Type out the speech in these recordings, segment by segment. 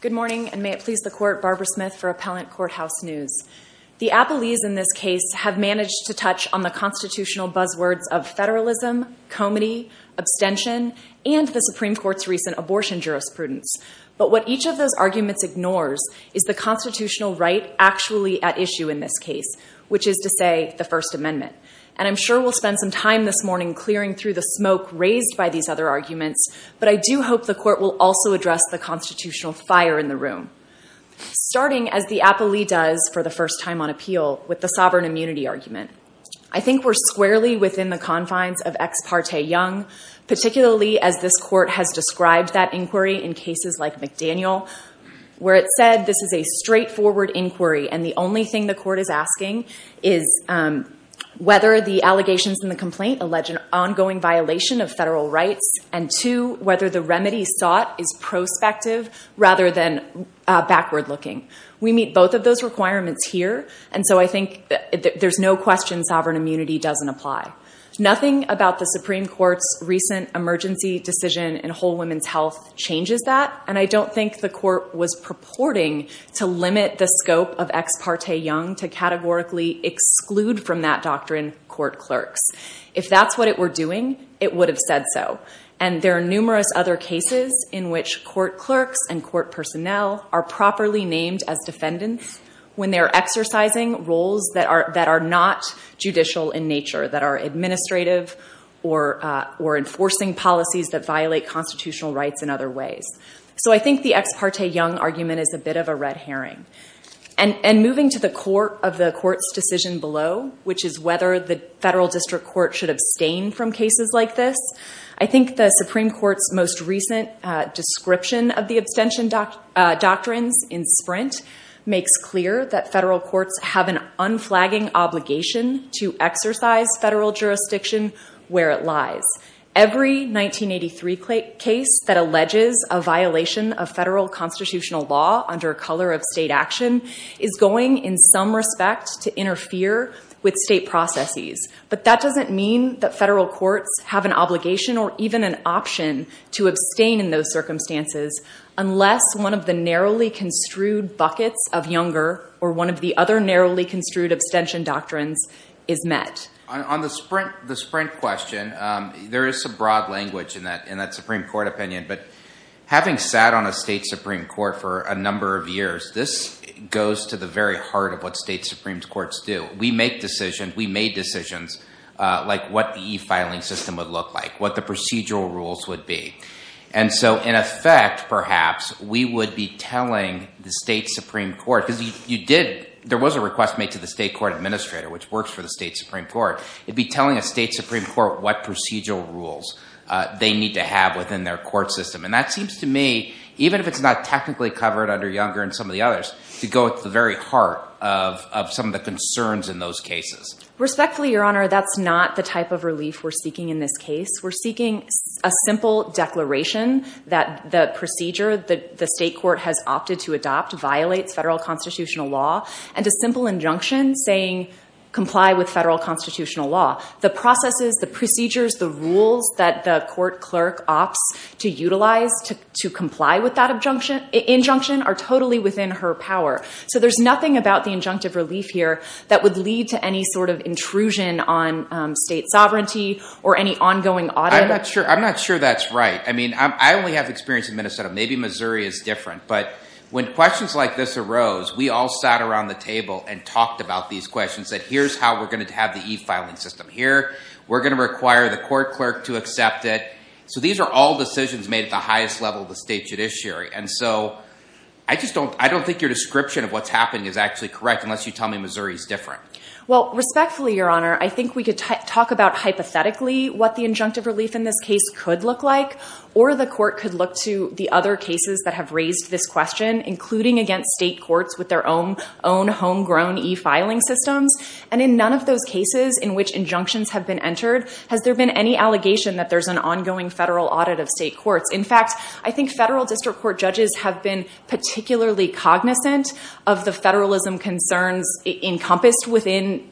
Good morning, and may it please the Court, Barbara Smith for Appellant Courthouse News. The Appellees in this case have managed to touch on the constitutional buzzwords of federalism, comity, abstention, and the Supreme Court's recent abortion jurisprudence. But what each of those arguments ignores is the constitutional right actually at issue in this case, which is to say, the First Amendment. And I'm sure we'll spend some time this morning clearing through the smoke raised by these other arguments, but I do hope the Court will also address the constitutional fire in the room, starting, as the Appellee does for the first time on appeal, with the sovereign immunity argument. I think we're squarely within the confines of Ex Parte Young, particularly as this Court has described that inquiry in cases like McDaniel, where it said this is a straightforward inquiry, and the only thing the Court is asking is whether the allegations in the complaint allege an ongoing violation of federal rights, and two, whether the remedy sought is prospective rather than backward-looking. We meet both of those requirements here, and so I think that there's no question sovereign immunity doesn't apply. Nothing about the Supreme Court's recent emergency decision in Whole Women's Health changes that, and I don't think the Court was purporting to limit the scope of Ex Parte Young to categorically exclude from that doctrine court clerks. If that's what it were doing, it would have said so. And there are numerous other cases in which court clerks and court personnel are properly named as defendants when they are exercising roles that are not judicial in nature, that are administrative or enforcing policies that violate constitutional rights in other ways. So I think the Ex Parte Young argument is a bit of a red herring. And moving to the core of the Court's decision below, which is whether the federal district court should abstain from cases like this, I think the Supreme Court's most recent description of the abstention doctrines in Sprint makes clear that federal courts have an unflagging obligation to exercise federal jurisdiction where it lies. Every 1983 case that alleges a violation of federal constitutional law under a color of state action is going, in some respect, to interfere with state processes. But that doesn't mean that federal courts have an obligation or even an option to abstain in those circumstances unless one of the narrowly construed buckets of Younger or one of the other narrowly construed abstention doctrines is met. On the Sprint question, there is some broad language in that Supreme Court opinion. But having sat on a state Supreme Court for a number of years, this goes to the very heart of what state Supreme Courts do. We make decisions. We made decisions like what the e-filing system would look like, what the procedural rules would be. And so in effect, perhaps, we would be telling the state Supreme Court, because you did, there was a request made to the state court administrator, which works for the state Supreme Court. You'd be telling a state Supreme Court what procedural rules they need to have within their court system. And that seems to me, even if it's not technically covered under Younger and some of the others, to go at the very heart of some of the concerns in those cases. Respectfully, Your Honor, that's not the type of relief we're seeking in this case. We're seeking a simple declaration that the procedure that the state court has opted to adopt violates federal constitutional law, and a simple injunction saying comply with federal constitutional law. The processes, the procedures, the rules that the court clerk opts to utilize to comply with that injunction are totally within her power. So there's nothing about the injunctive relief here that would lead to any sort of intrusion on state sovereignty or any ongoing audit. I'm not sure that's right. I mean, I only have experience in Minnesota. Maybe Missouri is different. But when questions like this arose, we all sat around the table and talked about these questions that here's how we're going to have the e-filing system here. We're going to require the court clerk to accept it. So these are all decisions made at the highest level of the state judiciary. And so I just don't think your description of what's happening is actually correct, unless you tell me Missouri's different. Well, respectfully, Your Honor, I think we could talk about hypothetically what the injunctive relief in this case could look like. Or the court could look to the other cases that have raised this question, including against state courts with their own homegrown e-filing systems. And in none of those cases in which injunctions have been entered has there been any allegation that there's an ongoing federal audit of state courts. In fact, I think federal district court judges have been particularly cognizant of the federalism concerns encompassed within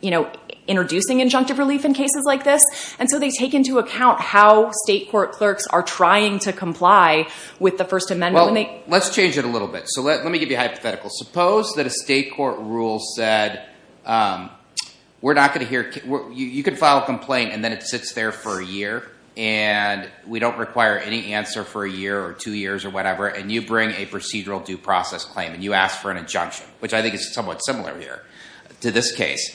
introducing injunctive relief in cases like this. And so they take into account how state court clerks are trying to comply with the First Amendment. Well, let's change it a little bit. So let me give you a hypothetical. Suppose that a state court rule said, you could file a complaint and then it sits there for a year. And we don't require any answer for a year or two years or whatever. And you bring a procedural due process claim and you ask for an injunction, which I think is somewhat similar here to this case.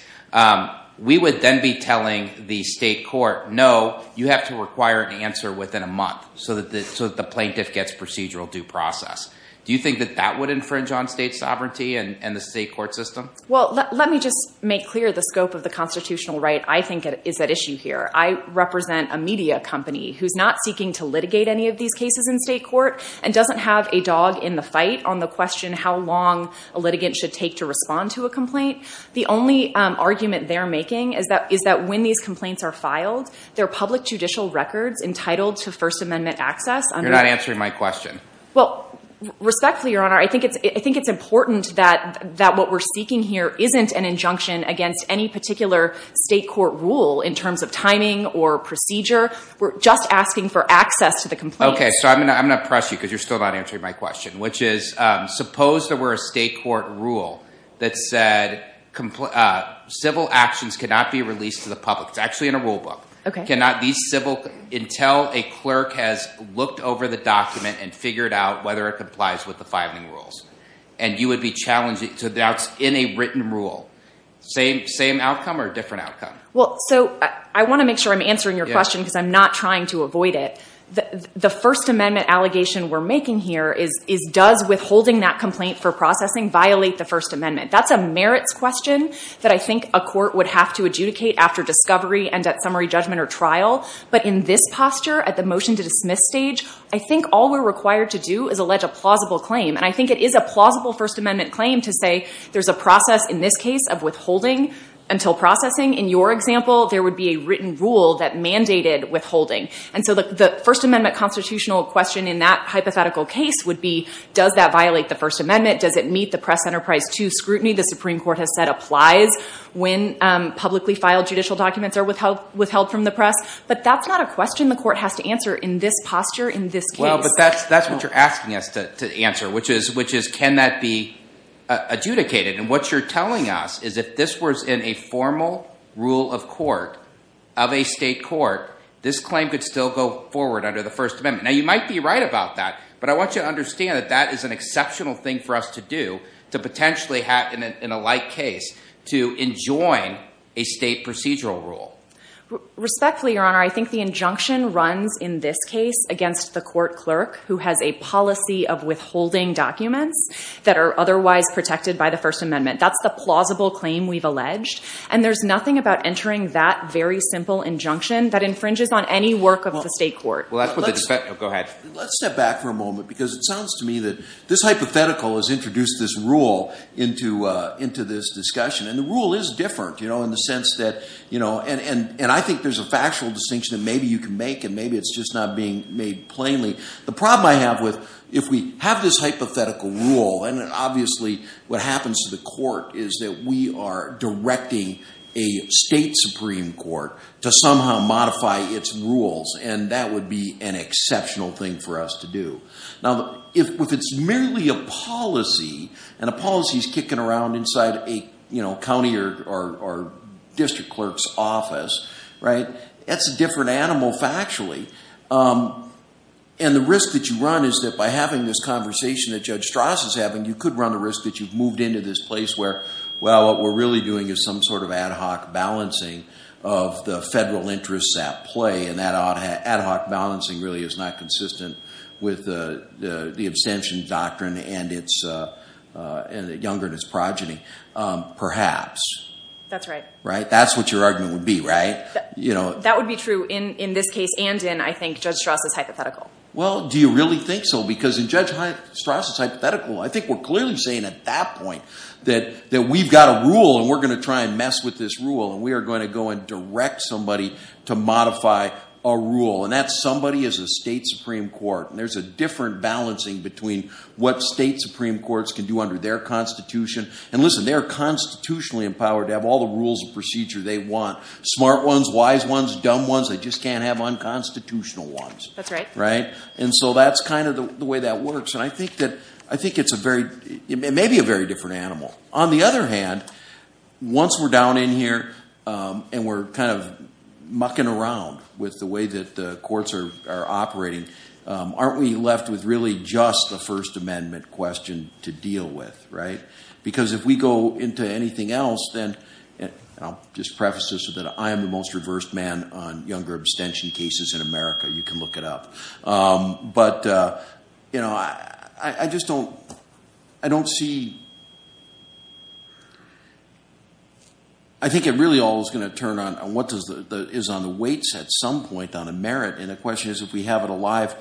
We would then be telling the state court, no, you have to require an answer within a month so that the plaintiff gets procedural due process. Do you think that that would infringe on state sovereignty and the state court system? Well, let me just make clear the scope of the constitutional right I think is at issue here. I represent a media company who's not seeking to litigate any of these cases in state court and doesn't have a dog in the fight on the question how long a litigant should take to respond to a complaint. The only argument they're making is that when these complaints are filed, they're public judicial records entitled to First Amendment access. You're not answering my question. Well, respectfully, Your Honor, I think it's important that what we're seeking here isn't an injunction against any particular state court rule in terms of timing or procedure. We're just asking for access to the complaint. Okay, so I'm going to press you because you're still not answering my question, which is suppose there were a state court rule that said civil actions cannot be released to the public. It's actually in a rule book. Cannot be civil until a clerk has looked over the document and figured out whether it complies with the filing rules. And you would be challenging, so that's in a written rule. Same outcome or different outcome? Well, so I want to make sure I'm answering your question because I'm not trying to avoid it. The First Amendment allegation we're making here is does withholding that complaint for processing violate the First Amendment? That's a merits question that I think a court would have to adjudicate after discovery and at summary judgment or trial. But in this posture, at the motion to dismiss stage, I think all we're required to do is allege a plausible claim. And I think it is a plausible First Amendment claim to say there's a process in this case of withholding until processing. In your example, there would be a written rule that mandated withholding. And so the First Amendment constitutional question in that hypothetical case would be does that violate the First Amendment? Does it meet the press enterprise to scrutiny the Supreme Court has said applies when publicly filed judicial documents are withheld from the press? But that's not a question the court has to answer in this posture, in this case. Well, but that's what you're asking us to answer, which is can that be adjudicated? And what you're telling us is if this was in a formal rule of court of a state court, this claim could still go forward under the First Amendment. Now, you might be right about that. But I want you to understand that that is an exceptional thing for us to do to potentially have in a light case to enjoin a state procedural rule. Respectfully, Your Honor, I think the injunction runs in this case against the court clerk who has a policy of withholding documents that are otherwise protected by the First Amendment. That's the plausible claim we've alleged. And there's nothing about entering that very simple injunction that infringes on any work of the state court. Well, that's what the- Go ahead. Let's step back for a moment, because it sounds to me that this hypothetical has introduced this rule into this discussion. And the rule is different, in the sense that, and I think there's a factual distinction that maybe you can make, and maybe it's just not being made plainly. The problem I have with, if we have this hypothetical rule, and that we are directing a state Supreme Court to somehow modify its rules. And that would be an exceptional thing for us to do. Now, if it's merely a policy, and a policy's kicking around inside a county or district clerk's office, right, that's a different animal factually. And the risk that you run is that by having this conversation that Judge Strauss is having, you could run the risk that you've moved into this place where, well, what we're really doing is some sort of ad hoc balancing of the federal interests at play. And that ad hoc balancing really is not consistent with the abstention doctrine and its, and the younger and its progeny, perhaps. That's right. Right? That's what your argument would be, right? That would be true in this case and in, I think, Judge Strauss' hypothetical. Well, do you really think so? Because in Judge Strauss' hypothetical, I think we're clearly saying at that point that we've got a rule, and we're going to try and mess with this rule, and we are going to go and direct somebody to modify a rule. And that somebody is a state Supreme Court, and there's a different balancing between what state Supreme Courts can do under their constitution. And listen, they are constitutionally empowered to have all the rules and procedure they want. Smart ones, wise ones, dumb ones, they just can't have unconstitutional ones. That's right. Right? And so that's kind of the way that works. And I think that, I think it's a very, it may be a very different animal. On the other hand, once we're down in here, and we're kind of mucking around with the way that the courts are operating, aren't we left with really just the First Amendment question to deal with, right? Because if we go into anything else, then, and I'll just preface this with that, I am the most reversed man on younger abstention cases in America. You can look it up. But I just don't, I don't see, I think it really all is going to turn on what is on the weights at some point on a merit. And the question is, if we have it alive,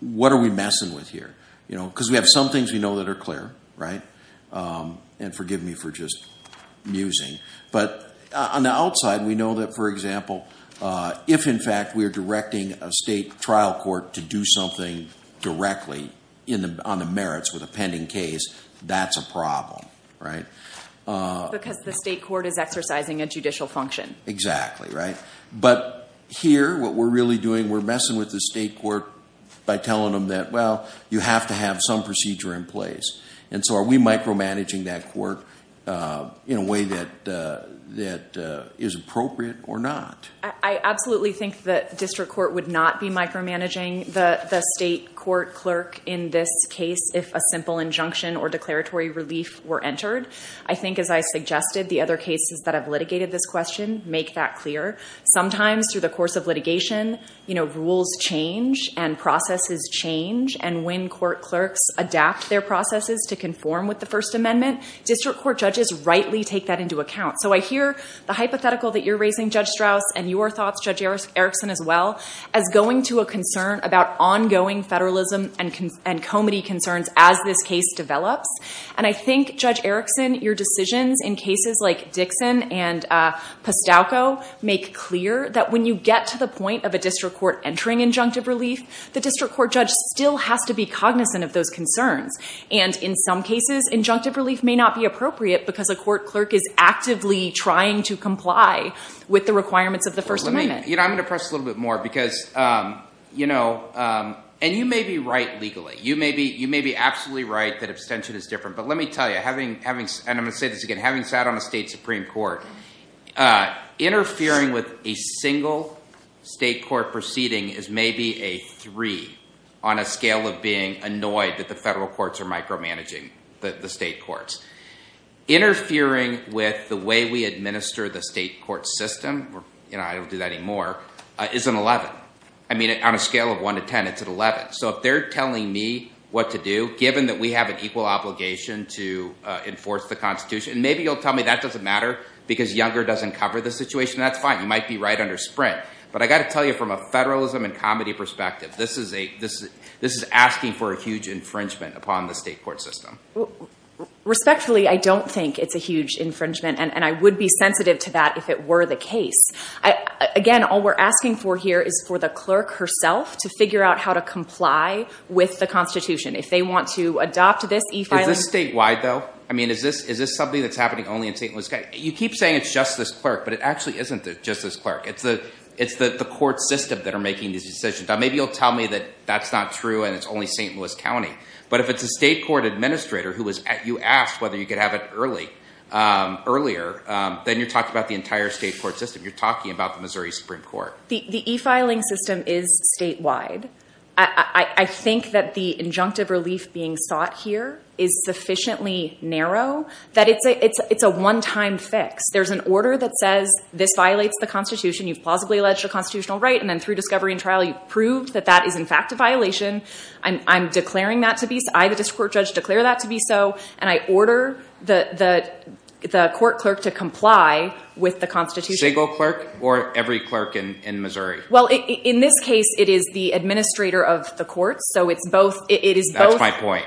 what are we messing with here? Because we have some things we know that are clear, right? And forgive me for just musing. But on the outside, we know that, for example, if in fact we are directing a state trial court to do something directly on the merits with a pending case, that's a problem, right? Because the state court is exercising a judicial function. Exactly, right? But here, what we're really doing, we're messing with the state court by telling them that, well, you have to have some procedure in place. And so are we micromanaging that court in a way that is appropriate or not? I absolutely think that district court would not be micromanaging the state court clerk in this case if a simple injunction or declaratory relief were entered. I think, as I suggested, the other cases that have litigated this question make that clear. Sometimes, through the course of litigation, rules change and processes change. And when court clerks adapt their processes to conform with the First Amendment, district court judges rightly take that into account. So I hear the hypothetical that you're raising, Judge Strauss, and your thoughts, Judge Erickson, as well, as going to a concern about ongoing federalism and comity concerns as this case develops. And I think, Judge Erickson, your decisions in cases like Dixon and Postauco make clear that when you get to the point of a district court entering injunctive relief, the district court judge still has to be cognizant of those concerns. And in some cases, injunctive relief may not be appropriate because a court clerk is actively trying to comply with the requirements of the First Amendment. You know, I'm going to press a little bit more because, you know, and you may be right legally. You may be absolutely right that abstention is different. But let me tell you, and I'm going to say this again, having sat on a state Supreme Court, interfering with a single state court proceeding is maybe a three on a scale of being annoyed that the federal courts are micromanaging the state courts. Interfering with the way we administer the state court system, you know, I don't do that anymore, is an 11. I mean, on a scale of one to 10, it's an 11. So if they're telling me what to do, given that we have an equal obligation to enforce the Constitution, and maybe you'll tell me that doesn't matter because Younger doesn't cover the situation, that's fine. You might be right under Sprint. But I got to tell you from a federalism and comedy perspective, this is asking for a huge infringement upon the state court system. Respectfully, I don't think it's a huge infringement, and I would be sensitive to that if it were the case. Again, all we're asking for here is for the clerk herself to figure out how to comply with the Constitution. If they want to adopt this e-filing... Is this statewide though? I mean, is this something that's happening only in St. Louis County? You keep saying it's just this clerk, but it actually isn't just this clerk. It's the court system that are making these decisions. Now, maybe you'll tell me that that's not true and it's only St. Louis County. But if it's a state court administrator who was... You asked whether you could have it earlier, then you're talking about the entire state court system. You're talking about the Missouri Supreme Court. The e-filing system is statewide. I think that the injunctive relief being sought here is sufficiently narrow that it's a one-time fix. There's an order that says this violates the Constitution. You've plausibly alleged a constitutional right, and then through discovery and trial, you've proved that that is in fact a violation. I'm declaring that to be so. I, the district court judge, declare that to be so, and I order the court clerk to comply with the Constitution. Single clerk or every clerk in Missouri? Well, in this case, it is the administrator of the courts. So it's both... That's my point.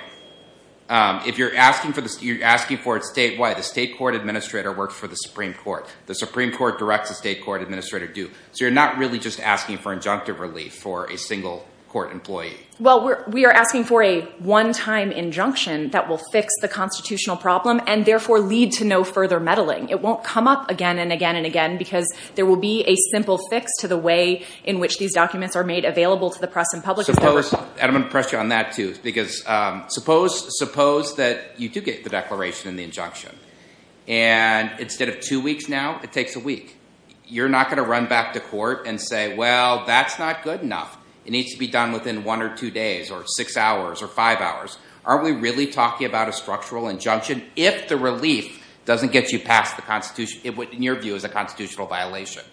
If you're asking for it statewide, the state court administrator works for the Supreme Court. The Supreme Court directs the state court administrator do. So you're not really just asking for injunctive relief for a single court employee. Well, we are asking for a one-time injunction that will fix the constitutional problem and therefore lead to no further meddling. It won't come up again and again and again because there will be a simple fix to the way in which these documents are made available to the press and public. I'm going to press you on that, too, because suppose that you do get the declaration and the injunction, and instead of two weeks now, it takes a week. You're not going to run back to court and say, well, that's not good enough. It needs to be done within one or two days or six hours or five hours. Aren't we really talking about a structural injunction if the relief doesn't get you past the Constitution, in your view, is a constitutional violation?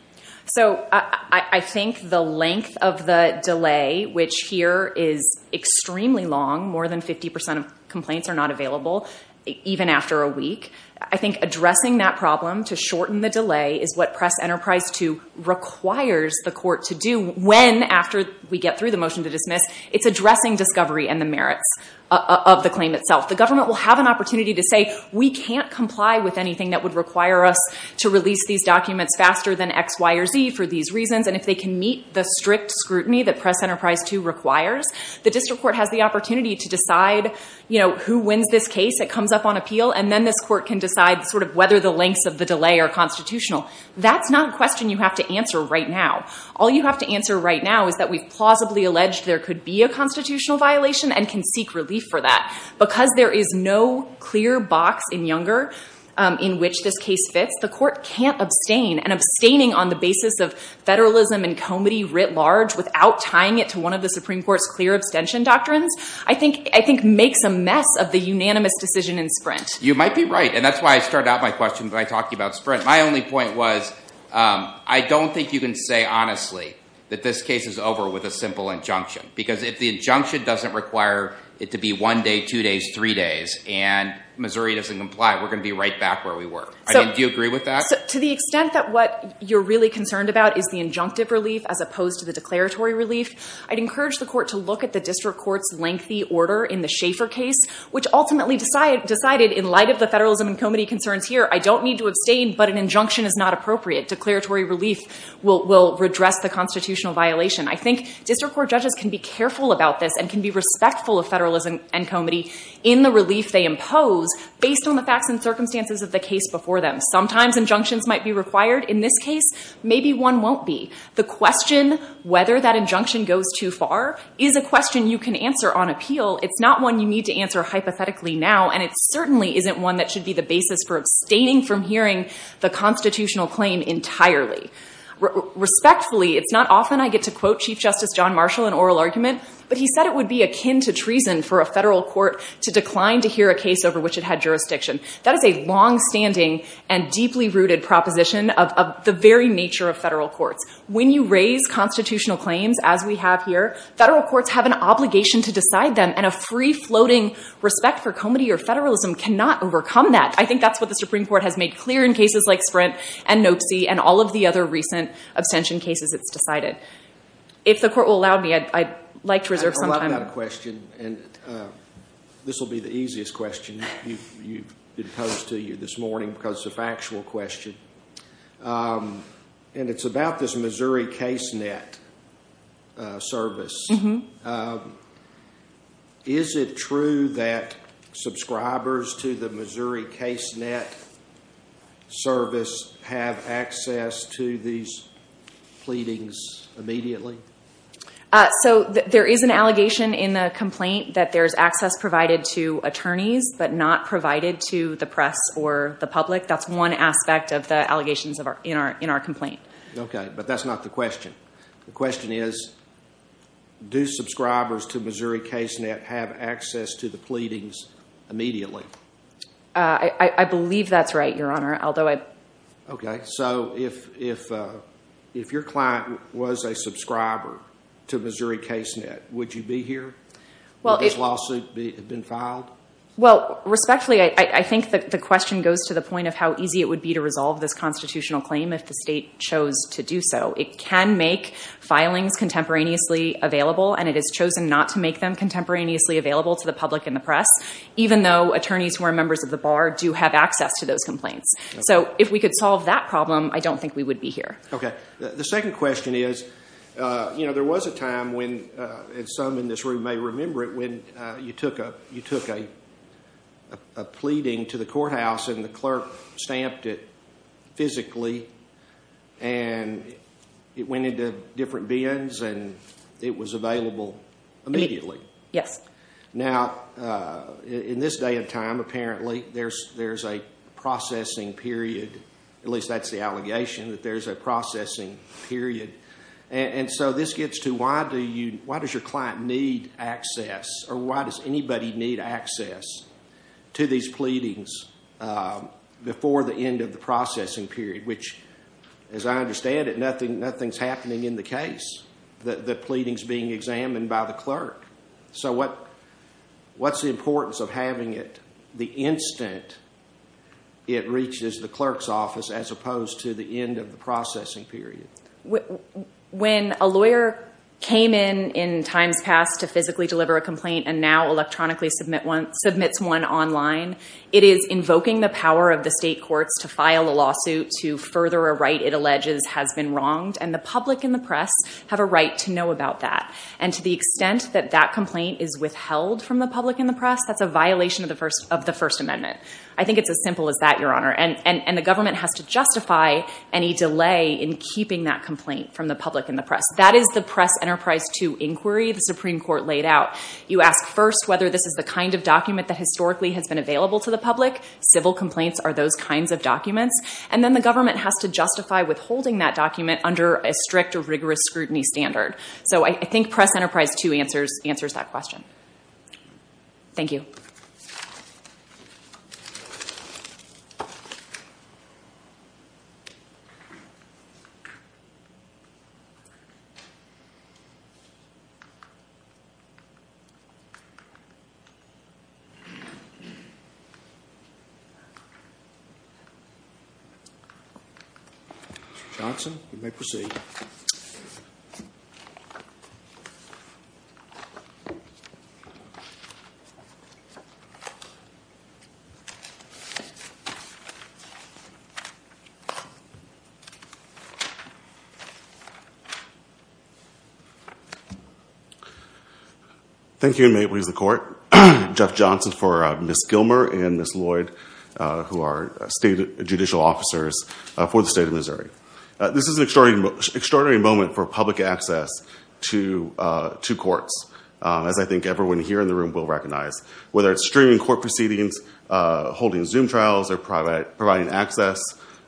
So I think the length of the delay, which here is extremely long, more than 50% of complaints are not available, even after a week. I think addressing that problem to shorten the delay is what Press Enterprise 2 requires the court to do when, after we get through the motion to dismiss, it's addressing discovery and the merits of the claim itself. The government will have an opportunity to say, we can't comply with anything that would require us to release these documents faster than X, Y, or Z for these reasons. And if they can meet the strict scrutiny that Press Enterprise 2 requires, the district court has the opportunity to decide who wins this case. It comes up on appeal. And then this court can decide whether the lengths of the delay are constitutional. That's not a question you have to answer right now. All you have to answer right now is that we've plausibly alleged there could be a constitutional violation and can seek relief for that. Because there is no clear box in Younger in which this case fits, the court can't abstain. And abstaining on the basis of federalism and comity writ large without tying it to one of the Supreme Court's clear abstention doctrines, I think makes a mess of the unanimous decision in Sprint. You might be right. And that's why I started out my question by talking about Sprint. My only point was, I don't think you can say honestly that this case is over with a simple injunction. Because if the injunction doesn't require it to be one day, two days, three days, and Missouri doesn't comply, we're going to be right back where we were. Do you agree with that? To the extent that what you're really concerned about is the injunctive relief as opposed to the declaratory relief, I'd encourage the court to look at the district court's lengthy order in the Schaefer case, which ultimately decided, in light of the federalism and comity concerns here, I don't need to abstain, but an injunction is not appropriate. Declaratory relief will redress the constitutional violation. I think district court judges can be careful about this in the relief they impose based on the facts and circumstances of the case before them. Sometimes injunctions might be required. In this case, maybe one won't be. The question whether that injunction goes too far is a question you can answer on appeal. It's not one you need to answer hypothetically now, and it certainly isn't one that should be the basis for abstaining from hearing the constitutional claim entirely. Respectfully, it's not often I get to quote Chief Justice John Marshall in oral argument, but he said it would be akin to treason for a federal court to decline to hear a case over which it had jurisdiction. That is a longstanding and deeply-rooted proposition of the very nature of federal courts. When you raise constitutional claims, as we have here, federal courts have an obligation to decide them, and a free-floating respect for comity or federalism cannot overcome that. I think that's what the Supreme Court has made clear in cases like Sprint and Nopesee and all of the other recent abstention cases it's decided. If the court will allow me, I'd like to reserve some time. I love that question, and this will be the easiest question. You've been posed to you this morning because it's a factual question. And it's about this Missouri case net service. Is it true that subscribers to the Missouri case net service have access to these pleadings immediately? So there is an allegation in the complaint that there's access provided to attorneys, but not provided to the press or the public. That's one aspect of the allegations in our complaint. OK, but that's not the question. The question is, do subscribers to Missouri case net have access to the pleadings immediately? I believe that's right, Your Honor, although I... OK, so if your client was a subscriber to Missouri case net, would you be here? Would this lawsuit have been filed? Well, respectfully, I think the question goes to the point of how easy it would be to resolve this constitutional claim if the state chose to do so. It can make filings contemporaneously available, and it has chosen not to make them contemporaneously available to the public and the press, even though attorneys who are members of the bar do have access to those complaints. So if we could solve that problem, I don't think we would be here. OK, the second question is, you know, there was a time when, and some in this room may remember it, when you took a pleading to the courthouse and the clerk stamped it physically and it went into different bins and it was available immediately. Yes. Now, in this day and time, apparently, there's a processing period, at least that's the allegation, that there's a processing period. And so this gets to why does your client need access, or why does anybody need access to these pleadings before the end of the processing period, which, as I understand it, nothing's happening in the case. The pleading's being examined by the clerk. So what's the importance of having it the instant it reaches the clerk's office as opposed to the end of the processing period? When a lawyer came in in times past to physically deliver a complaint and now electronically submits one online, it is invoking the power of the state courts to file a lawsuit to further a right it alleges has been wronged, and the public and the press have a right to know about that. And to the extent that that complaint is withheld from the public and the press, that's a violation of the First Amendment. I think it's as simple as that, Your Honor. And the government has to justify any delay in keeping that complaint from the public and the press. That is the Press Enterprise 2 inquiry the Supreme Court laid out. You ask first whether this is the kind of document that historically has been available to the public. Civil complaints are those kinds of documents. And then the government has to justify withholding that document under a strict or rigorous scrutiny standard. So I think Press Enterprise 2 answers that question. Thank you. Mr. Johnson, you may proceed. Thank you, and may it please the court. Jeff Johnson for Ms. Gilmer and Ms. Lloyd, who are state judicial officers for the state of Missouri. This is an extraordinary moment for public access to courts, as I think everyone here in the room will recognize. Whether it's streaming court proceedings, holding Zoom trials, or providing access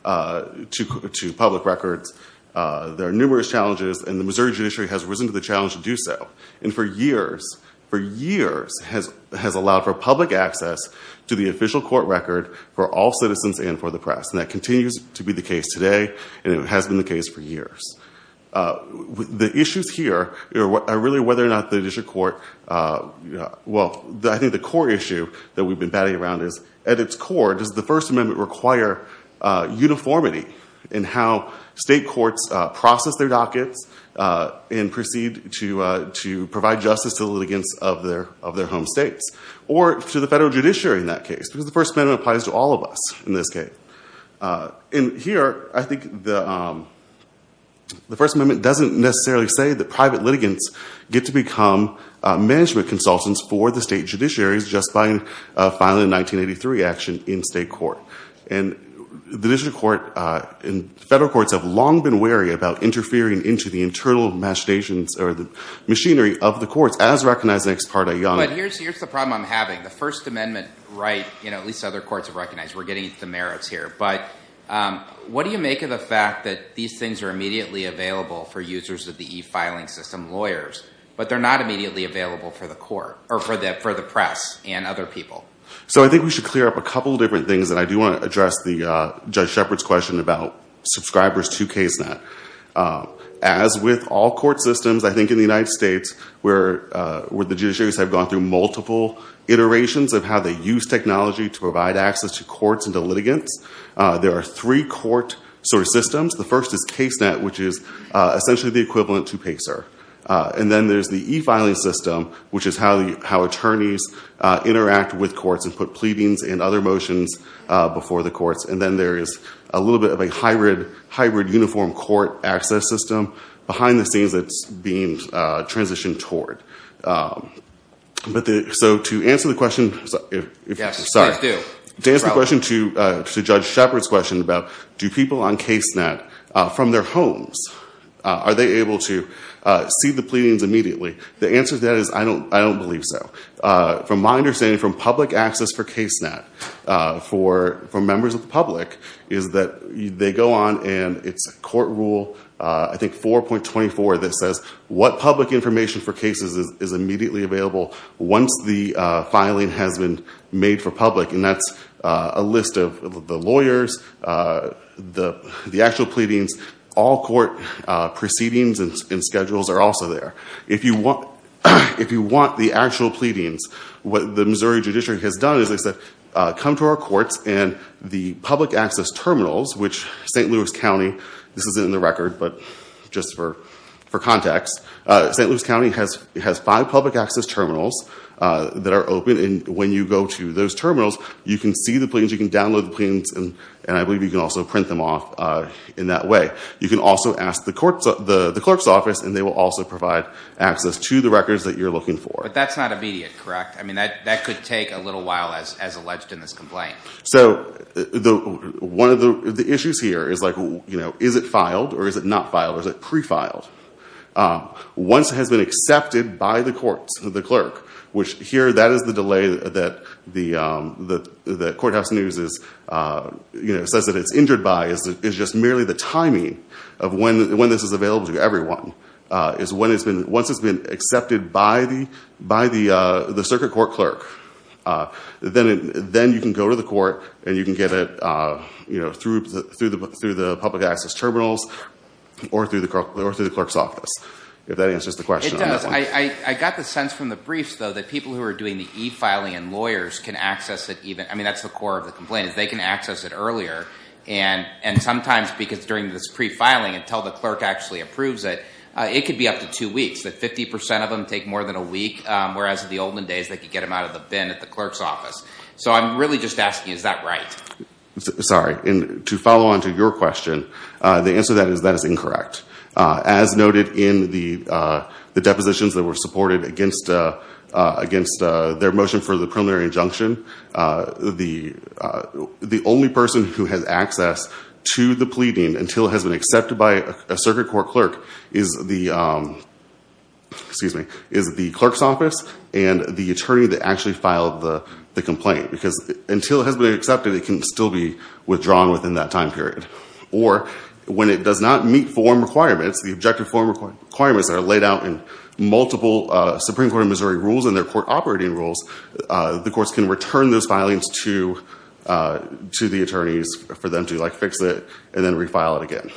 to public records, there are numerous challenges, and the Missouri judiciary has risen to the challenge to do so. And for years, for years, has allowed for public access to the official court record for all citizens and for the press. And that continues to be the case today, and it has been the case for years. The issues here are really whether or not the district court, well, I think the core issue that we've been batting around is, at its core, does the First Amendment require uniformity in how state courts process their dockets and proceed to provide justice to the litigants of their home states, or to the federal judiciary in that case, because the First Amendment applies to all of us in this case. And here, I think the First Amendment doesn't necessarily say that private litigants get to become management consultants for the state judiciaries just by filing a 1983 action in state court. And the district court, and federal courts have long been wary about interfering into the internal machinations, or the machinery of the courts, as recognized in ex parte yonder. But here's the problem I'm having. The First Amendment right, at least other courts have recognized, we're getting into the merits here, but what do you make of the fact that these things are immediately available for users of the e-filing system, lawyers, but they're not immediately available for the court, or for the press, and other people? So I think we should clear up a couple different things, and I do want to address the Judge Shepard's question about subscribers to KSNET. As with all court systems, I think in the United States, where the judiciaries have gone through multiple iterations of how they use technology to provide access to courts and to litigants, there are three court sort of systems. The first is KSNET, which is essentially the equivalent to PACER. And then there's the e-filing system, which is how attorneys interact with courts and put pleadings and other motions before the courts. And then there is a little bit of a hybrid, hybrid uniform court access system behind the scenes that's being transitioned toward. So to answer the question, sorry. To answer the question to Judge Shepard's question about do people on KSNET, from their homes, are they able to see the pleadings immediately? The answer to that is I don't believe so. From my understanding, from public access for KSNET, for members of the public, is that they go on and it's a court rule, I think 4.24, that says what public information for cases is immediately available once the filing has been made for public. And that's a list of the lawyers, the actual pleadings. All court proceedings and schedules are also there. If you want the actual pleadings, what the Missouri Judiciary has done is come to our courts and the public access terminals, which St. Louis County, this isn't in the record, but just for context, St. Louis County has five public access terminals that are open and when you go to those terminals, you can see the pleadings, you can download the pleadings, and I believe you can also print them off in that way. You can also ask the clerk's office and they will also provide access to the records that you're looking for. But that's not immediate, correct? I mean, that could take a little while as alleged in this complaint. So, one of the issues here is like, is it filed or is it not filed, or is it pre-filed? Once it has been accepted by the courts, the clerk, which here, that is the delay that the courthouse news is, says that it's injured by, is just merely the timing of when this is available to everyone, is when it's been, once it's been accepted by the circuit court clerk, then you can go to the court and you can get it through the public access terminals or through the clerk's office, if that answers the question. It does, I got the sense from the briefs though that people who are doing the e-filing and lawyers can access it even, I mean, that's the core of the complaint is they can access it earlier and sometimes because during this pre-filing until the clerk actually approves it, it could be up to two weeks, that 50% of them take more than a week, whereas in the olden days, they could get them out of the bin at the clerk's office. So, I'm really just asking, is that right? Sorry, and to follow on to your question, the answer to that is that is incorrect. As noted in the depositions that were supported against their motion for the preliminary injunction, the only person who has access to the pleading until it has been accepted by a circuit court clerk is the, excuse me, is the clerk's office and the attorney that actually filed the complaint because until it has been accepted, it can still be withdrawn within that time period. Or when it does not meet form requirements, the objective form requirements that are laid out in multiple Supreme Court of Missouri rules and their court operating rules, the courts can return those filings to the attorneys for them to fix it and then refile it again.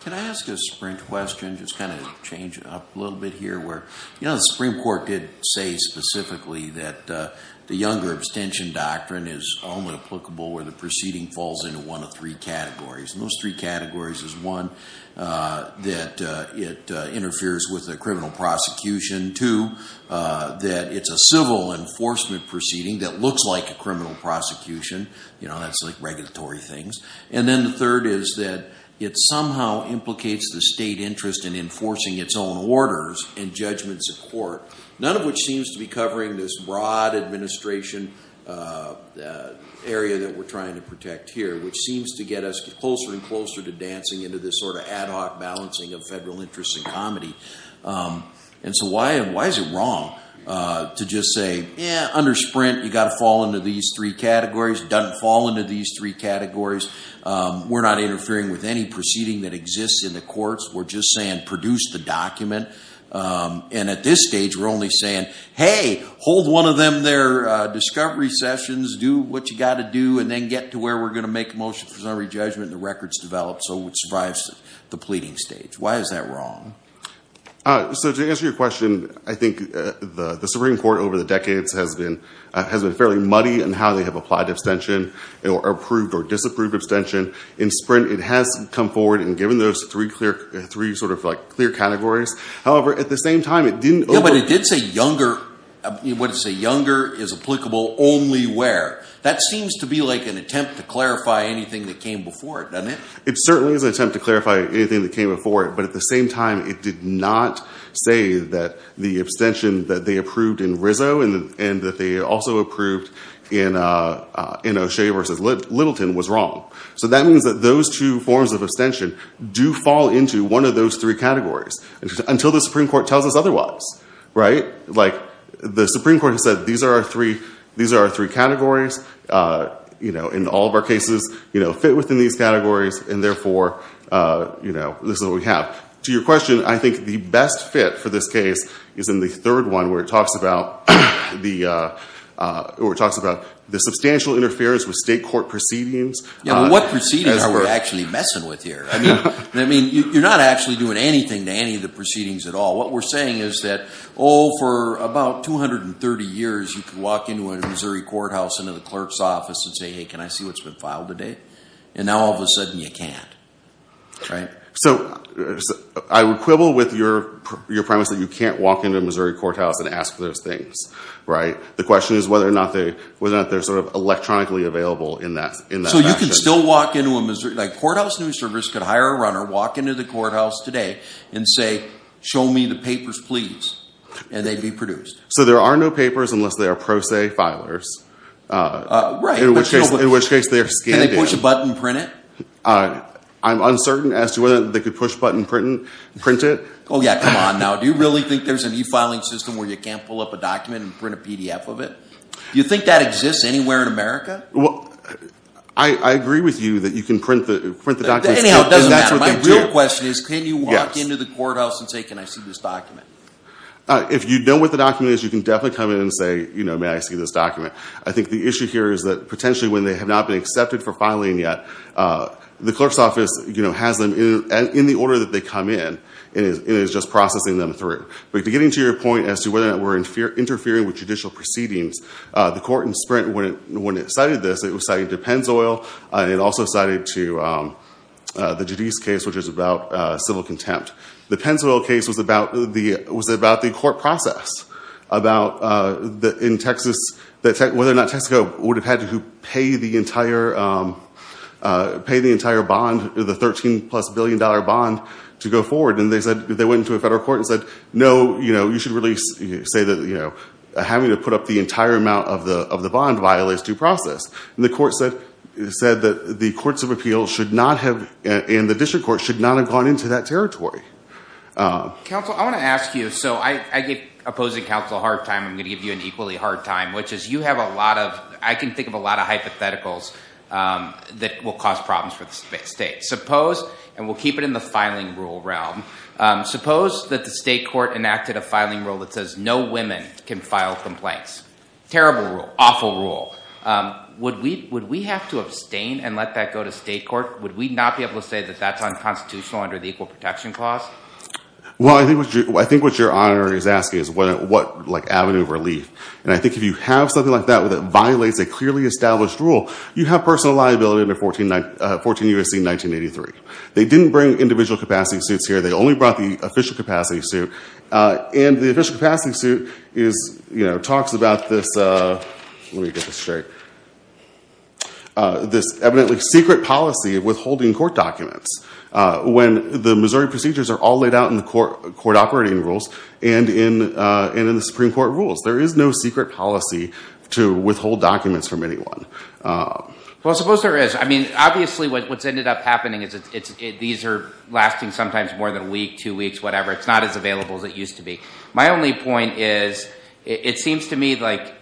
Can I ask a sprint question, just kind of change up a little bit here where, you know, the Supreme Court did say specifically that the Younger Abstention Doctrine is only applicable where the proceeding falls into one of three categories, and those three categories is one, that it interferes with the criminal prosecution, two, that it's a civil enforcement proceeding that looks like a criminal prosecution, you know, that's like regulatory things, and then the third is that it somehow implicates the state interest in enforcing its own orders and judgments of court, none of which seems to be covering this broad administration area that we're trying to protect here, which seems to get us closer and closer to dancing into this sort of ad hoc balancing of federal interests and comedy. And so why is it wrong to just say, yeah, under sprint, you gotta fall into these three categories, doesn't fall into these three categories, we're not interfering with any proceeding that exists in the courts, we're just saying produce the document, and at this stage, we're only saying, hey, hold one of them their discovery sessions, do what you gotta do, and then get to where we're gonna make a motion for summary judgment and the record's developed so it survives the pleading stage, why is that wrong? So to answer your question, I think the Supreme Court over the decades has been fairly muddy in how they have applied abstention, or approved or disapproved abstention, in sprint, it has come forward and given those three sort of clear categories, however, at the same time, it didn't over- Yeah, but it did say younger, what it said, younger is applicable only where, that seems to be like an attempt to clarify anything that came before it, doesn't it? It certainly is an attempt to clarify anything that came before it, but at the same time, it did not say that the abstention that they approved in Rizzo and that they also approved in O'Shea versus Littleton was wrong, so that means that those two forms of abstention do fall into one of those three categories, until the Supreme Court tells us otherwise, right? Like, the Supreme Court has said, these are our three categories, in all of our cases, fit within these categories, and therefore, this is what we have. To your question, I think the best fit for this case is in the third one, where it talks about the substantial interference with state court proceedings. Yeah, but what proceedings are we actually messing with here? I mean, you're not actually doing anything to any of the proceedings at all. What we're saying is that, oh, for about 230 years, you could walk into a Missouri courthouse, into the clerk's office and say, hey, can I see what's been filed today? And now, all of a sudden, you can't, right? So, I would quibble with your premise that you can't walk into a Missouri courthouse and ask for those things, right? The question is whether or not they're sort of electronically available in that fashion. So, you can still walk into a Missouri, like Courthouse News Service could hire a runner, walk into the courthouse today, and say, show me the papers, please, and they'd be produced. So, there are no papers unless they are pro se filers. Right. In which case, they are scanned in. Can they push a button and print it? I'm uncertain as to whether they could push a button and print it. Oh, yeah, come on, now. Do you really think there's an e-filing system where you can't pull up a document and print a PDF of it? Do you think that exists anywhere in America? I agree with you that you can print the documents. Anyhow, it doesn't matter. My real question is, can you walk into the courthouse and say, can I see this document? If you know what the document is, you can definitely come in and say, you know, may I see this document? I think the issue here is that, potentially, when they have not been accepted for filing yet, the clerk's office, you know, has them in the order that they come in, and is just processing them through. But getting to your point as to whether or not we're interfering with judicial proceedings, the court in Sprint, when it cited this, it was citing to Pennzoil, and it also cited to the Judiz case, which is about civil contempt. The Pennzoil case was about the court process about, in Texas, whether or not Texaco would have had to pay the entire bond, the $13 plus billion bond, to go forward. And they said, they went into a federal court and said, no, you know, you should really say that, you know, having to put up the entire amount of the bond violates due process. And the court said that the courts of appeals should not have, and the district courts, should not have gone into that territory. Council, I want to ask you, so I get opposing counsel a hard time. I'm going to give you an equally hard time, which is you have a lot of, I can think of a lot of hypotheticals that will cause problems for the state. Suppose, and we'll keep it in the filing rule realm, suppose that the state court enacted a filing rule that says no women can file complaints. Terrible rule, awful rule. Would we have to abstain and let that go to state court? Would we not be able to say that that's unconstitutional under the Equal Protection Clause? Well, I think what your honor is asking is what, like, avenue of relief. And I think if you have something like that that violates a clearly established rule, you have personal liability under 14 U.S.C. 1983. They didn't bring individual capacity suits here. They only brought the official capacity suit. And the official capacity suit is, you know, talks about this, let me get this straight, this evidently secret policy of withholding court documents when the Missouri procedures are all laid out in the court operating rules and in the Supreme Court rules. There is no secret policy to withhold documents from anyone. Well, suppose there is. I mean, obviously what's ended up happening is these are lasting sometimes more than a week, two weeks, whatever. It's not as available as it used to be. My only point is it seems to me like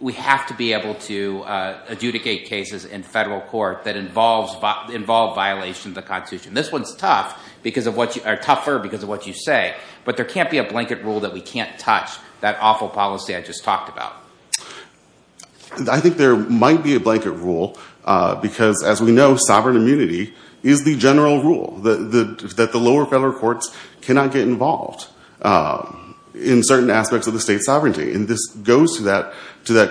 we have to be able to adjudicate cases in federal court that involve violations of the Constitution. This one's tough because of what you, or tougher because of what you say, but there can't be a blanket rule that we can't touch that awful policy I just talked about. I think there might be a blanket rule because as we know, sovereign immunity is the general rule that the lower federal courts cannot get involved in certain aspects of the state's sovereignty. And this goes to that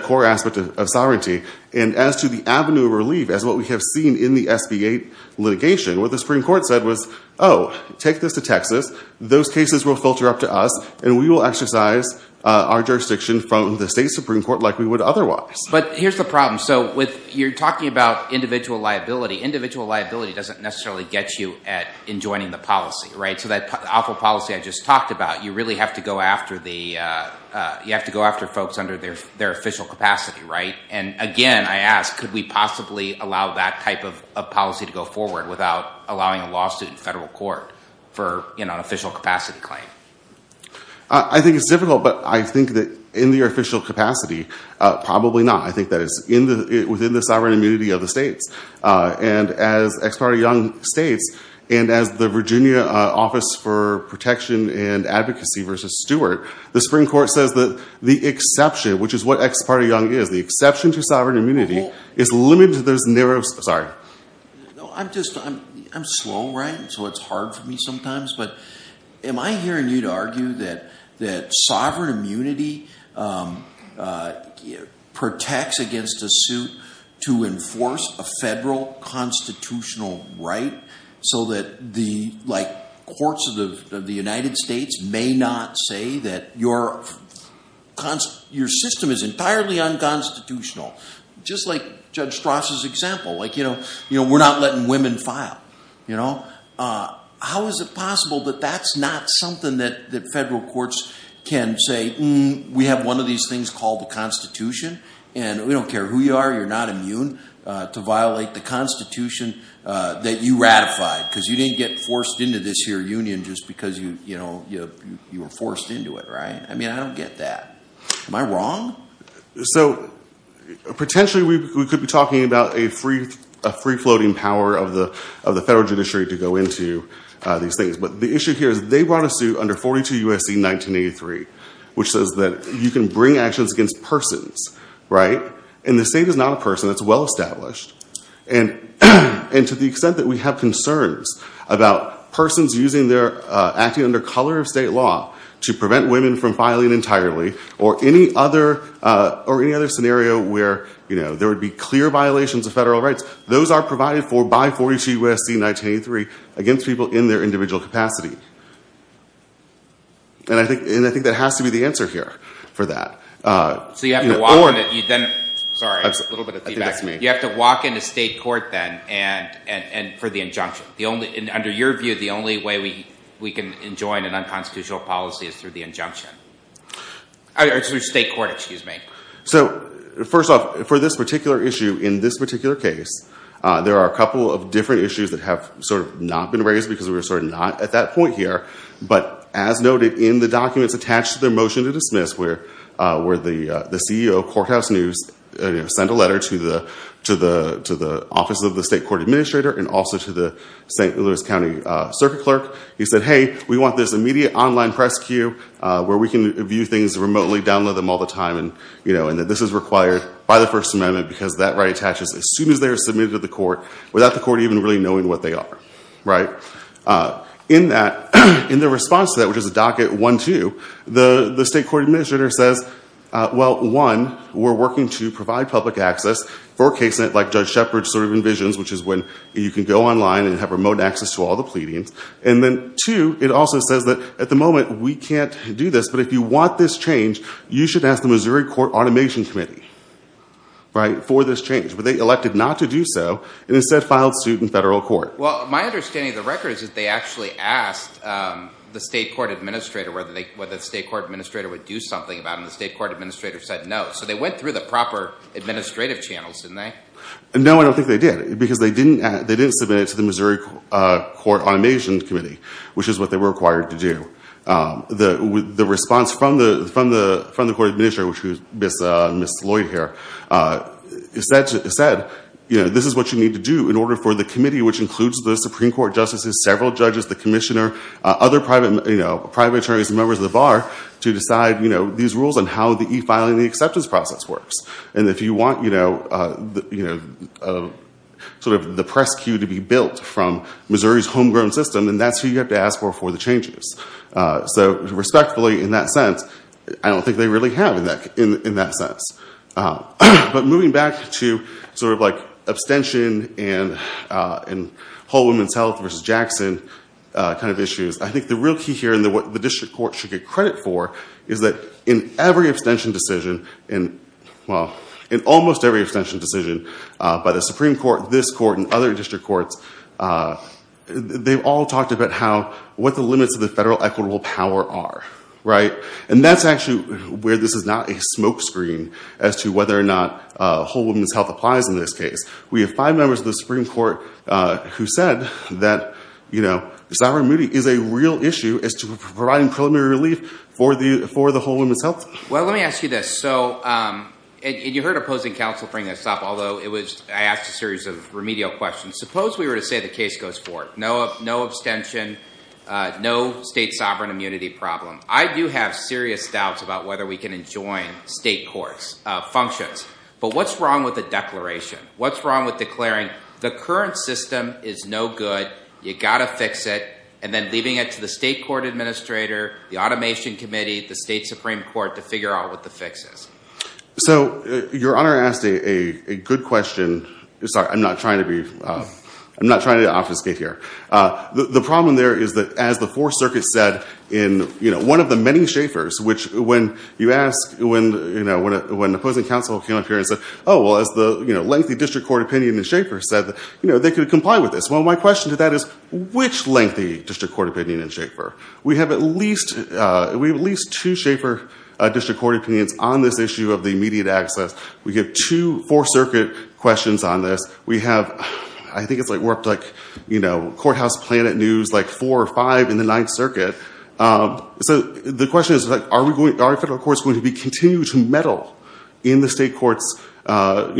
core aspect of sovereignty. And as to the avenue of relief, as what we have seen in the SB8 litigation, what the Supreme Court said was, oh, take this to Texas. Those cases will filter up to us and we will exercise our jurisdiction from the state Supreme Court like we would otherwise. But here's the problem. So you're talking about individual liability. Individual liability doesn't necessarily get you at enjoining the policy, right? So that awful policy I just talked about, you really have to go after the, you have to go after folks under their official capacity, right? And again, I ask, could we possibly allow that type of policy to go forward without allowing a lawsuit in federal court for an official capacity claim? I think it's difficult, but I think that in the official capacity, probably not. I think that it's within the sovereign immunity of the states. And as Ex Parte Young states, and as the Virginia Office for Protection and Advocacy versus Stewart, the Supreme Court says that the exception, which is what Ex Parte Young is, the exception to sovereign immunity is limited to those narrow, sorry. No, I'm just, I'm slow, right? So it's hard for me sometimes, but am I hearing you to argue that sovereign immunity protects against a suit to enforce a federal constitutional right so that the courts of the United States may not say that your system is entirely unconstitutional, just like Judge Strass's example. Like, you know, we're not letting women file, you know? How is it possible that that's not something that federal courts can say, we have one of these things called the Constitution, and we don't care who you are, you're not immune to violate the Constitution that you ratified, because you didn't get forced into this here union just because you were forced into it, right? I mean, I don't get that. Am I wrong? So potentially we could be talking about a free-floating power of the federal judiciary to go into these things. But the issue here is they brought a suit under 42 U.S.C. 1983, which says that you can bring actions against persons, right, and the state is not a person, it's well-established. And to the extent that we have concerns about persons using their, acting under color of state law to prevent women from filing entirely, or any other scenario where, you know, there would be clear violations of federal rights, those are provided for by 42 U.S.C. 1983 against people in their individual capacity. And I think that has to be the answer here for that. So you have to walk on it, you then, sorry, a little bit of feedback to me. You have to walk into state court then, and for the injunction. Under your view, the only way we can enjoin an unconstitutional policy is through the injunction. Or through state court, excuse me. So, first off, for this particular issue, in this particular case, there are a couple of different issues that have sort of not been raised because we're sort of not at that point here. But as noted in the documents attached to their motion to dismiss, where the CEO of Courthouse News sent a letter to the Office of the State Court Administrator and also to the St. Louis County Circuit Clerk. He said, hey, we want this immediate online press queue where we can view things remotely, download them all the time, and that this is required by the First Amendment because that right attaches as soon as they are submitted to the court, without the court even really knowing what they are. In that, in the response to that, which is a docket one, two, the State Court Administrator says, well, one, we're working to provide public access for a case like Judge Shepard sort of envisions, which is when you can go online and have remote access to all the pleadings. And then, two, it also says that, at the moment, we can't do this. But if you want this change, you should ask the Missouri Court Automation Committee for this change. But they elected not to do so and instead filed suit in federal court. Well, my understanding of the record is that they actually asked the State Court Administrator whether the State Court Administrator would do something about it. And the State Court Administrator said no. So they went through the proper administrative channels, didn't they? No, I don't think they did. Because they didn't submit it to the Missouri Court Automation Committee, which is what they were required to do. The response from the Court Administrator, which was Ms. Lloyd here, is that this is what you need to do in order for the committee, which includes the Supreme Court Justices, several judges, the commissioner, other private attorneys and members of the bar to decide these rules on how the e-filing and the acceptance process works. And if you want sort of the press queue to be built from Missouri's homegrown system, then that's who you have to ask for for the changes. So respectfully, in that sense, I don't think they really have in that sense. But moving back to sort of like abstention and Whole Woman's Health versus Jackson kind of issues, I think the real key here and what the district court should get credit for is that in every abstention decision, in, well, in almost every abstention decision by the Supreme Court, this court, and other district courts, they've all talked about how, what the limits of the federal equitable power are, right? And that's actually where this is not a smokescreen as to whether or not Whole Woman's Health applies in this case. We have five members of the Supreme Court who said that, you know, Zahra Moody is a real issue as to providing preliminary relief for the Whole Woman's Health. Well, let me ask you this. So, and you heard opposing counsel bring this up, although it was, I asked a series of remedial questions. Suppose we were to say the case goes forward, no abstention, no state sovereign immunity problem. I do have serious doubts about whether we can enjoin state courts functions, but what's wrong with the declaration? What's wrong with declaring the current system is no good, you gotta fix it, and then leaving it to the state court administrator, the automation committee, the state Supreme Court to figure out what the fix is? So your honor asked a good question. Sorry, I'm not trying to be, I'm not trying to obfuscate here. The problem there is that as the Fourth Circuit said in one of the many Schaefers, which when you ask, when opposing counsel came up here and said, oh, well, as the lengthy district court opinion in Schaefer said that they could comply with this. Well, my question to that is which lengthy district court opinion in Schaefer? We have at least two Schaefer district court opinions on this issue of the immediate access. We have two Fourth Circuit questions on this. We have, I think it's like we're up to like, you know, Courthouse Planet News, like four or five in the Ninth Circuit. So the question is like, are federal courts going to continue to meddle in the state courts, you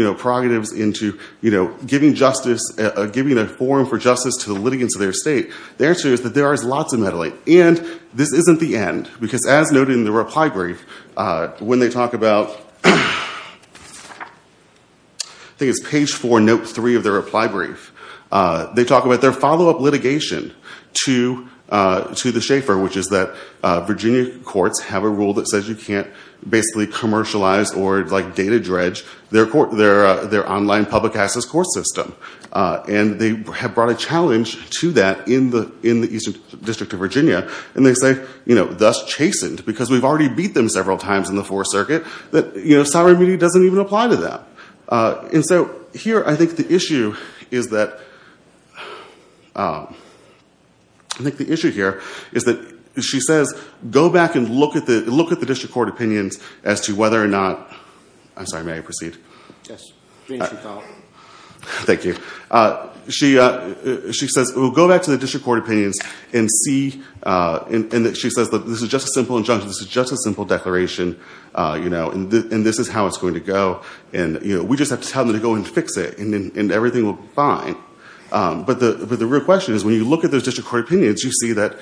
know, prerogatives into, you know, giving justice, giving a forum for justice to the litigants of their state? The answer is that there is lots of meddling, and this isn't the end, because as noted in the reply brief, when they talk about, I think it's page four, note three of their reply brief, they talk about their follow-up litigation to the Schaefer, which is that Virginia courts have a rule that says you can't basically commercialize or like data dredge their online public access court system. And they have brought a challenge to that in the Eastern District of Virginia, and they say, you know, thus chastened, because we've already beat them several times in the Fourth Circuit, that, you know, sovereign immunity doesn't even apply to that. And so here, I think the issue is that, I think the issue here is that she says, go back and look at the district court opinions as to whether or not, I'm sorry, may I proceed? Yes, please, your call. Thank you. She says, well, go back to the district court opinions and see, and she says that this is just a simple injunction, this is just a simple declaration, you know, and this is how it's going to go. And, you know, we just have to tell them to go and fix it and everything will be fine. But the real question is, when you look at those district court opinions, you see that,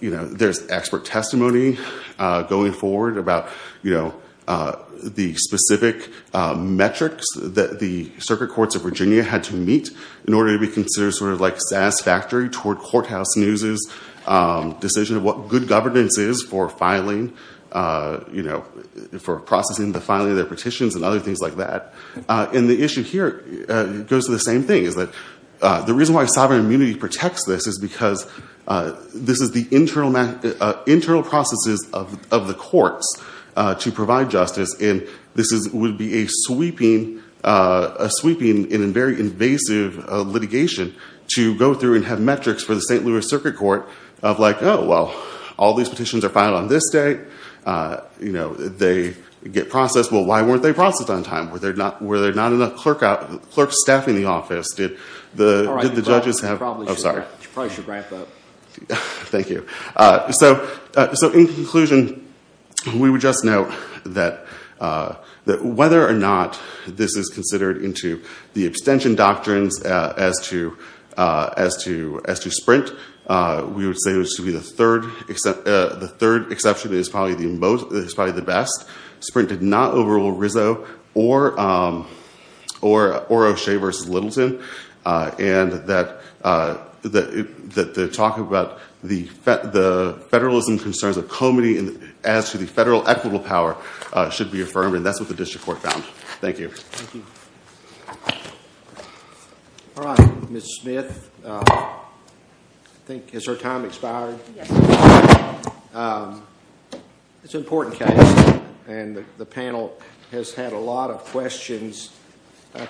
you know, there's expert testimony going forward about, you know, the specific metrics that the circuit courts of Virginia had to meet in order to be considered sort of like satisfactory toward Courthouse News' decision of what good governance is for filing, you know, for processing the filing of their petitions and other things like that. And the issue here goes to the same thing, is that the reason why sovereign immunity protects this is because this is the internal processes of the courts to provide justice, and this would be a sweeping, a sweeping and a very invasive litigation to go through and have metrics for the St. Louis Circuit Court of like, oh, well, all these petitions are filed on this day. You know, they get processed. Well, why weren't they processed on time? Were there not enough clerk staffing the office? Did the judges have, oh, sorry. You probably should wrap up. Thank you. So in conclusion, we would just note that whether or not this is considered into the abstention doctrines as to Sprint, we would say it was to be the third, the third exception is probably the best. Sprint did not overrule Rizzo or O'Shea versus Littleton, and that the talk about the federalism concerns of comity as to the federal equitable power should be affirmed, and that's what the district court found. Thank you. Thank you. All right, Ms. Smith, I think, has our time expired? Yes. It's an important case, and the panel has had a lot of questions.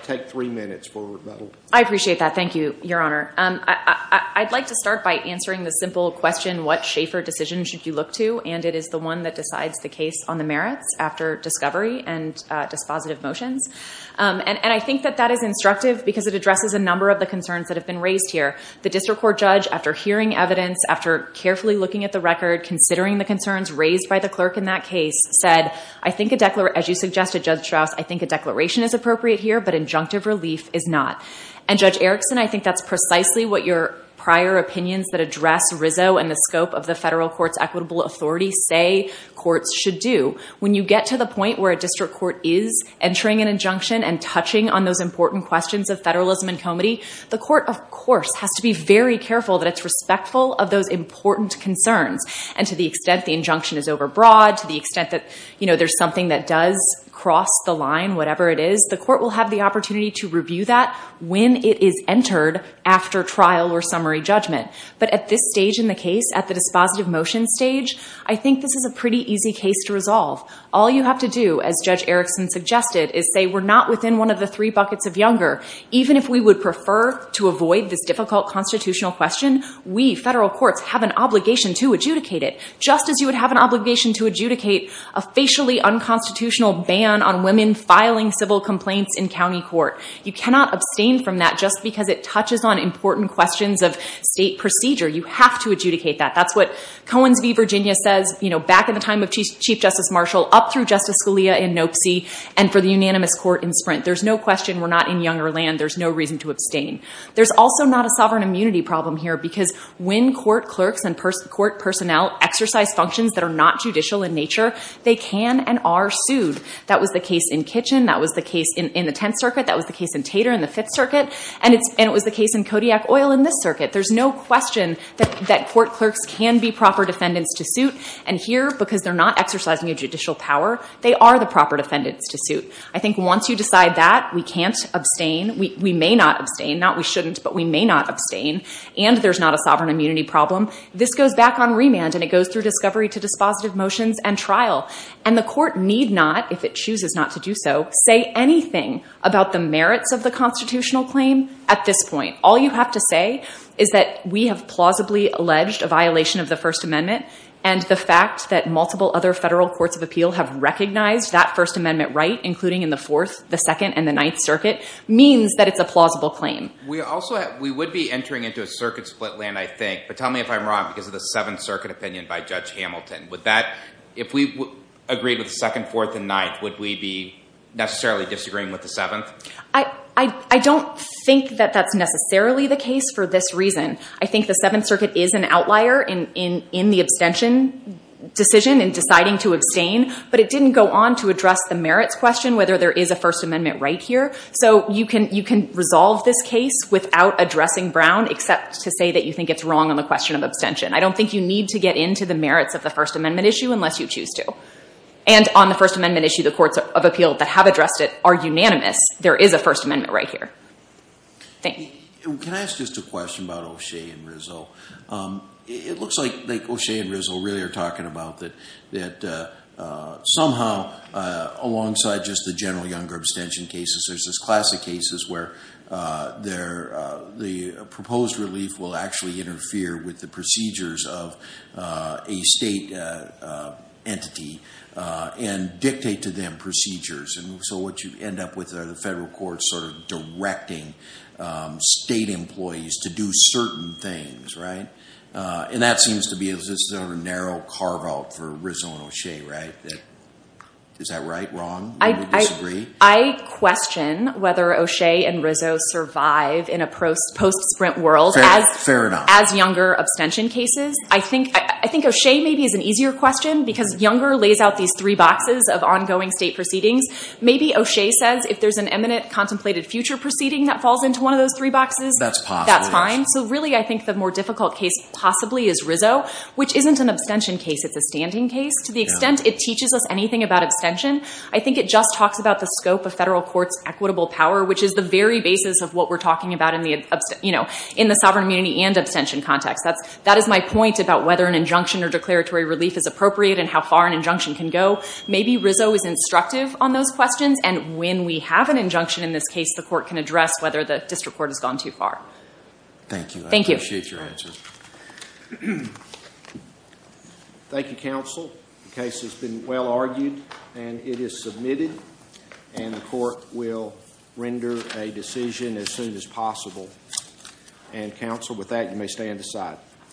Take three minutes for rebuttal. I appreciate that. Thank you, Your Honor. I'd like to start by answering the simple question, what Schaefer decision should you look to? And it is the one that decides the case on the merits after discovery and dispositive motions. And I think that that is instructive because it addresses a number of the concerns that have been raised here. The district court judge, after hearing evidence, after carefully looking at the record, considering the concerns raised by the clerk in that case, said, as you suggested, Judge Strauss, I think a declaration is appropriate here, but injunctive relief is not. And Judge Erickson, I think that's precisely what your prior opinions that address Rizzo and the scope of the federal court's equitable authority say courts should do. When you get to the point where a district court is entering an injunction and touching on those important questions of federalism and comity, the court, of course, has to be very careful that it's respectful of those important concerns. And to the extent the injunction is overbroad, to the extent that there's something that does cross the line, whatever it is, the court will have the opportunity to review that when it is entered after trial or summary judgment. But at this stage in the case, at the dispositive motion stage, I think this is a pretty easy case to resolve. All you have to do, as Judge Erickson suggested, is say we're not within one of the three buckets of Younger. Even if we would prefer to avoid this difficult constitutional question, we, federal courts, have an obligation to adjudicate it, just as you would have an obligation to adjudicate a facially unconstitutional ban on women filing civil complaints in county court. You cannot abstain from that just because it touches on important questions of state procedure. You have to adjudicate that. That's what Cohen's v. Virginia says, back in the time of Chief Justice Marshall, up through Justice Scalia in Nopesee, and for the unanimous court in Sprint. There's no question we're not in Younger land. There's no reason to abstain. There's also not a sovereign immunity problem here because when court clerks and court personnel exercise functions that are not judicial in nature, they can and are sued. That was the case in Kitchen, that was the case in the Tenth Circuit, that was the case in Tater in the Fifth Circuit, and it was the case in Kodiak Oil in this circuit. There's no question that court clerks can be proper defendants to suit, and here, because they're not exercising a judicial power, they are the proper defendants to suit. I think once you decide that, we can't abstain, we may not abstain, not we shouldn't, but we may not abstain, and there's not a sovereign immunity problem, this goes back on remand, and it goes through discovery to dispositive motions and trial. And the court need not, if it chooses not to do so, say anything about the merits of the constitutional claim at this point. All you have to say is that we have plausibly alleged a violation of the First Amendment, and the fact that multiple other federal courts of appeal have recognized that First Amendment right, including in the Fourth, the Second, and the Ninth Circuit, means that it's a plausible claim. We also, we would be entering into a circuit split land, I think, but tell me if I'm wrong, because of the Seventh Circuit opinion by Judge Hamilton, would that, if we agreed with the Second, Fourth, and Ninth, would we be necessarily disagreeing with the Seventh? I don't think that that's necessarily the case for this reason. I think the Seventh Circuit is an outlier in the abstention decision, in deciding to abstain, but it didn't go on to address the merits question, whether there is a First Amendment right here. So you can resolve this case without addressing Brown, except to say that you think it's wrong on the question of abstention. I don't think you need to get into the merits of the First Amendment issue, unless you choose to. And on the First Amendment issue, the courts of appeal that have addressed it are unanimous. There is a First Amendment right here. Thank you. Can I ask just a question about O'Shea and Rizzo? It looks like O'Shea and Rizzo really are talking about that somehow, alongside just the general younger abstention cases, there's this classic cases where the proposed relief will actually interfere with the procedures of a state entity, and dictate to them procedures. And so what you end up with are the federal courts sort of directing state employees to do certain things, right? And that seems to be a narrow carve out for Rizzo and O'Shea, right? Is that right, wrong, or do you disagree? I question whether O'Shea and Rizzo survive in a post-sprint world as younger abstention cases. I think O'Shea maybe is an easier question, because younger lays out these three boxes of ongoing state proceedings. Maybe O'Shea says, if there's an eminent contemplated future proceeding that falls into one of those three boxes, that's fine. So really, I think the more difficult case possibly is Rizzo, which isn't an abstention case. It's a standing case. To the extent it teaches us anything about abstention, I think it just talks about the scope of federal courts equitable power, which is the very basis of what we're talking about in the sovereign immunity and abstention context. That is my point about whether an injunction or declaratory relief is appropriate and how far an injunction can go. Maybe Rizzo is instructive on those questions. And when we have an injunction in this case, the court can address whether the district court has gone too far. Thank you. Thank you. I appreciate your answers. Thank you, counsel. The case has been well argued, and it is submitted. And the court will render a decision as soon as possible. And counsel, with that, you may stand aside.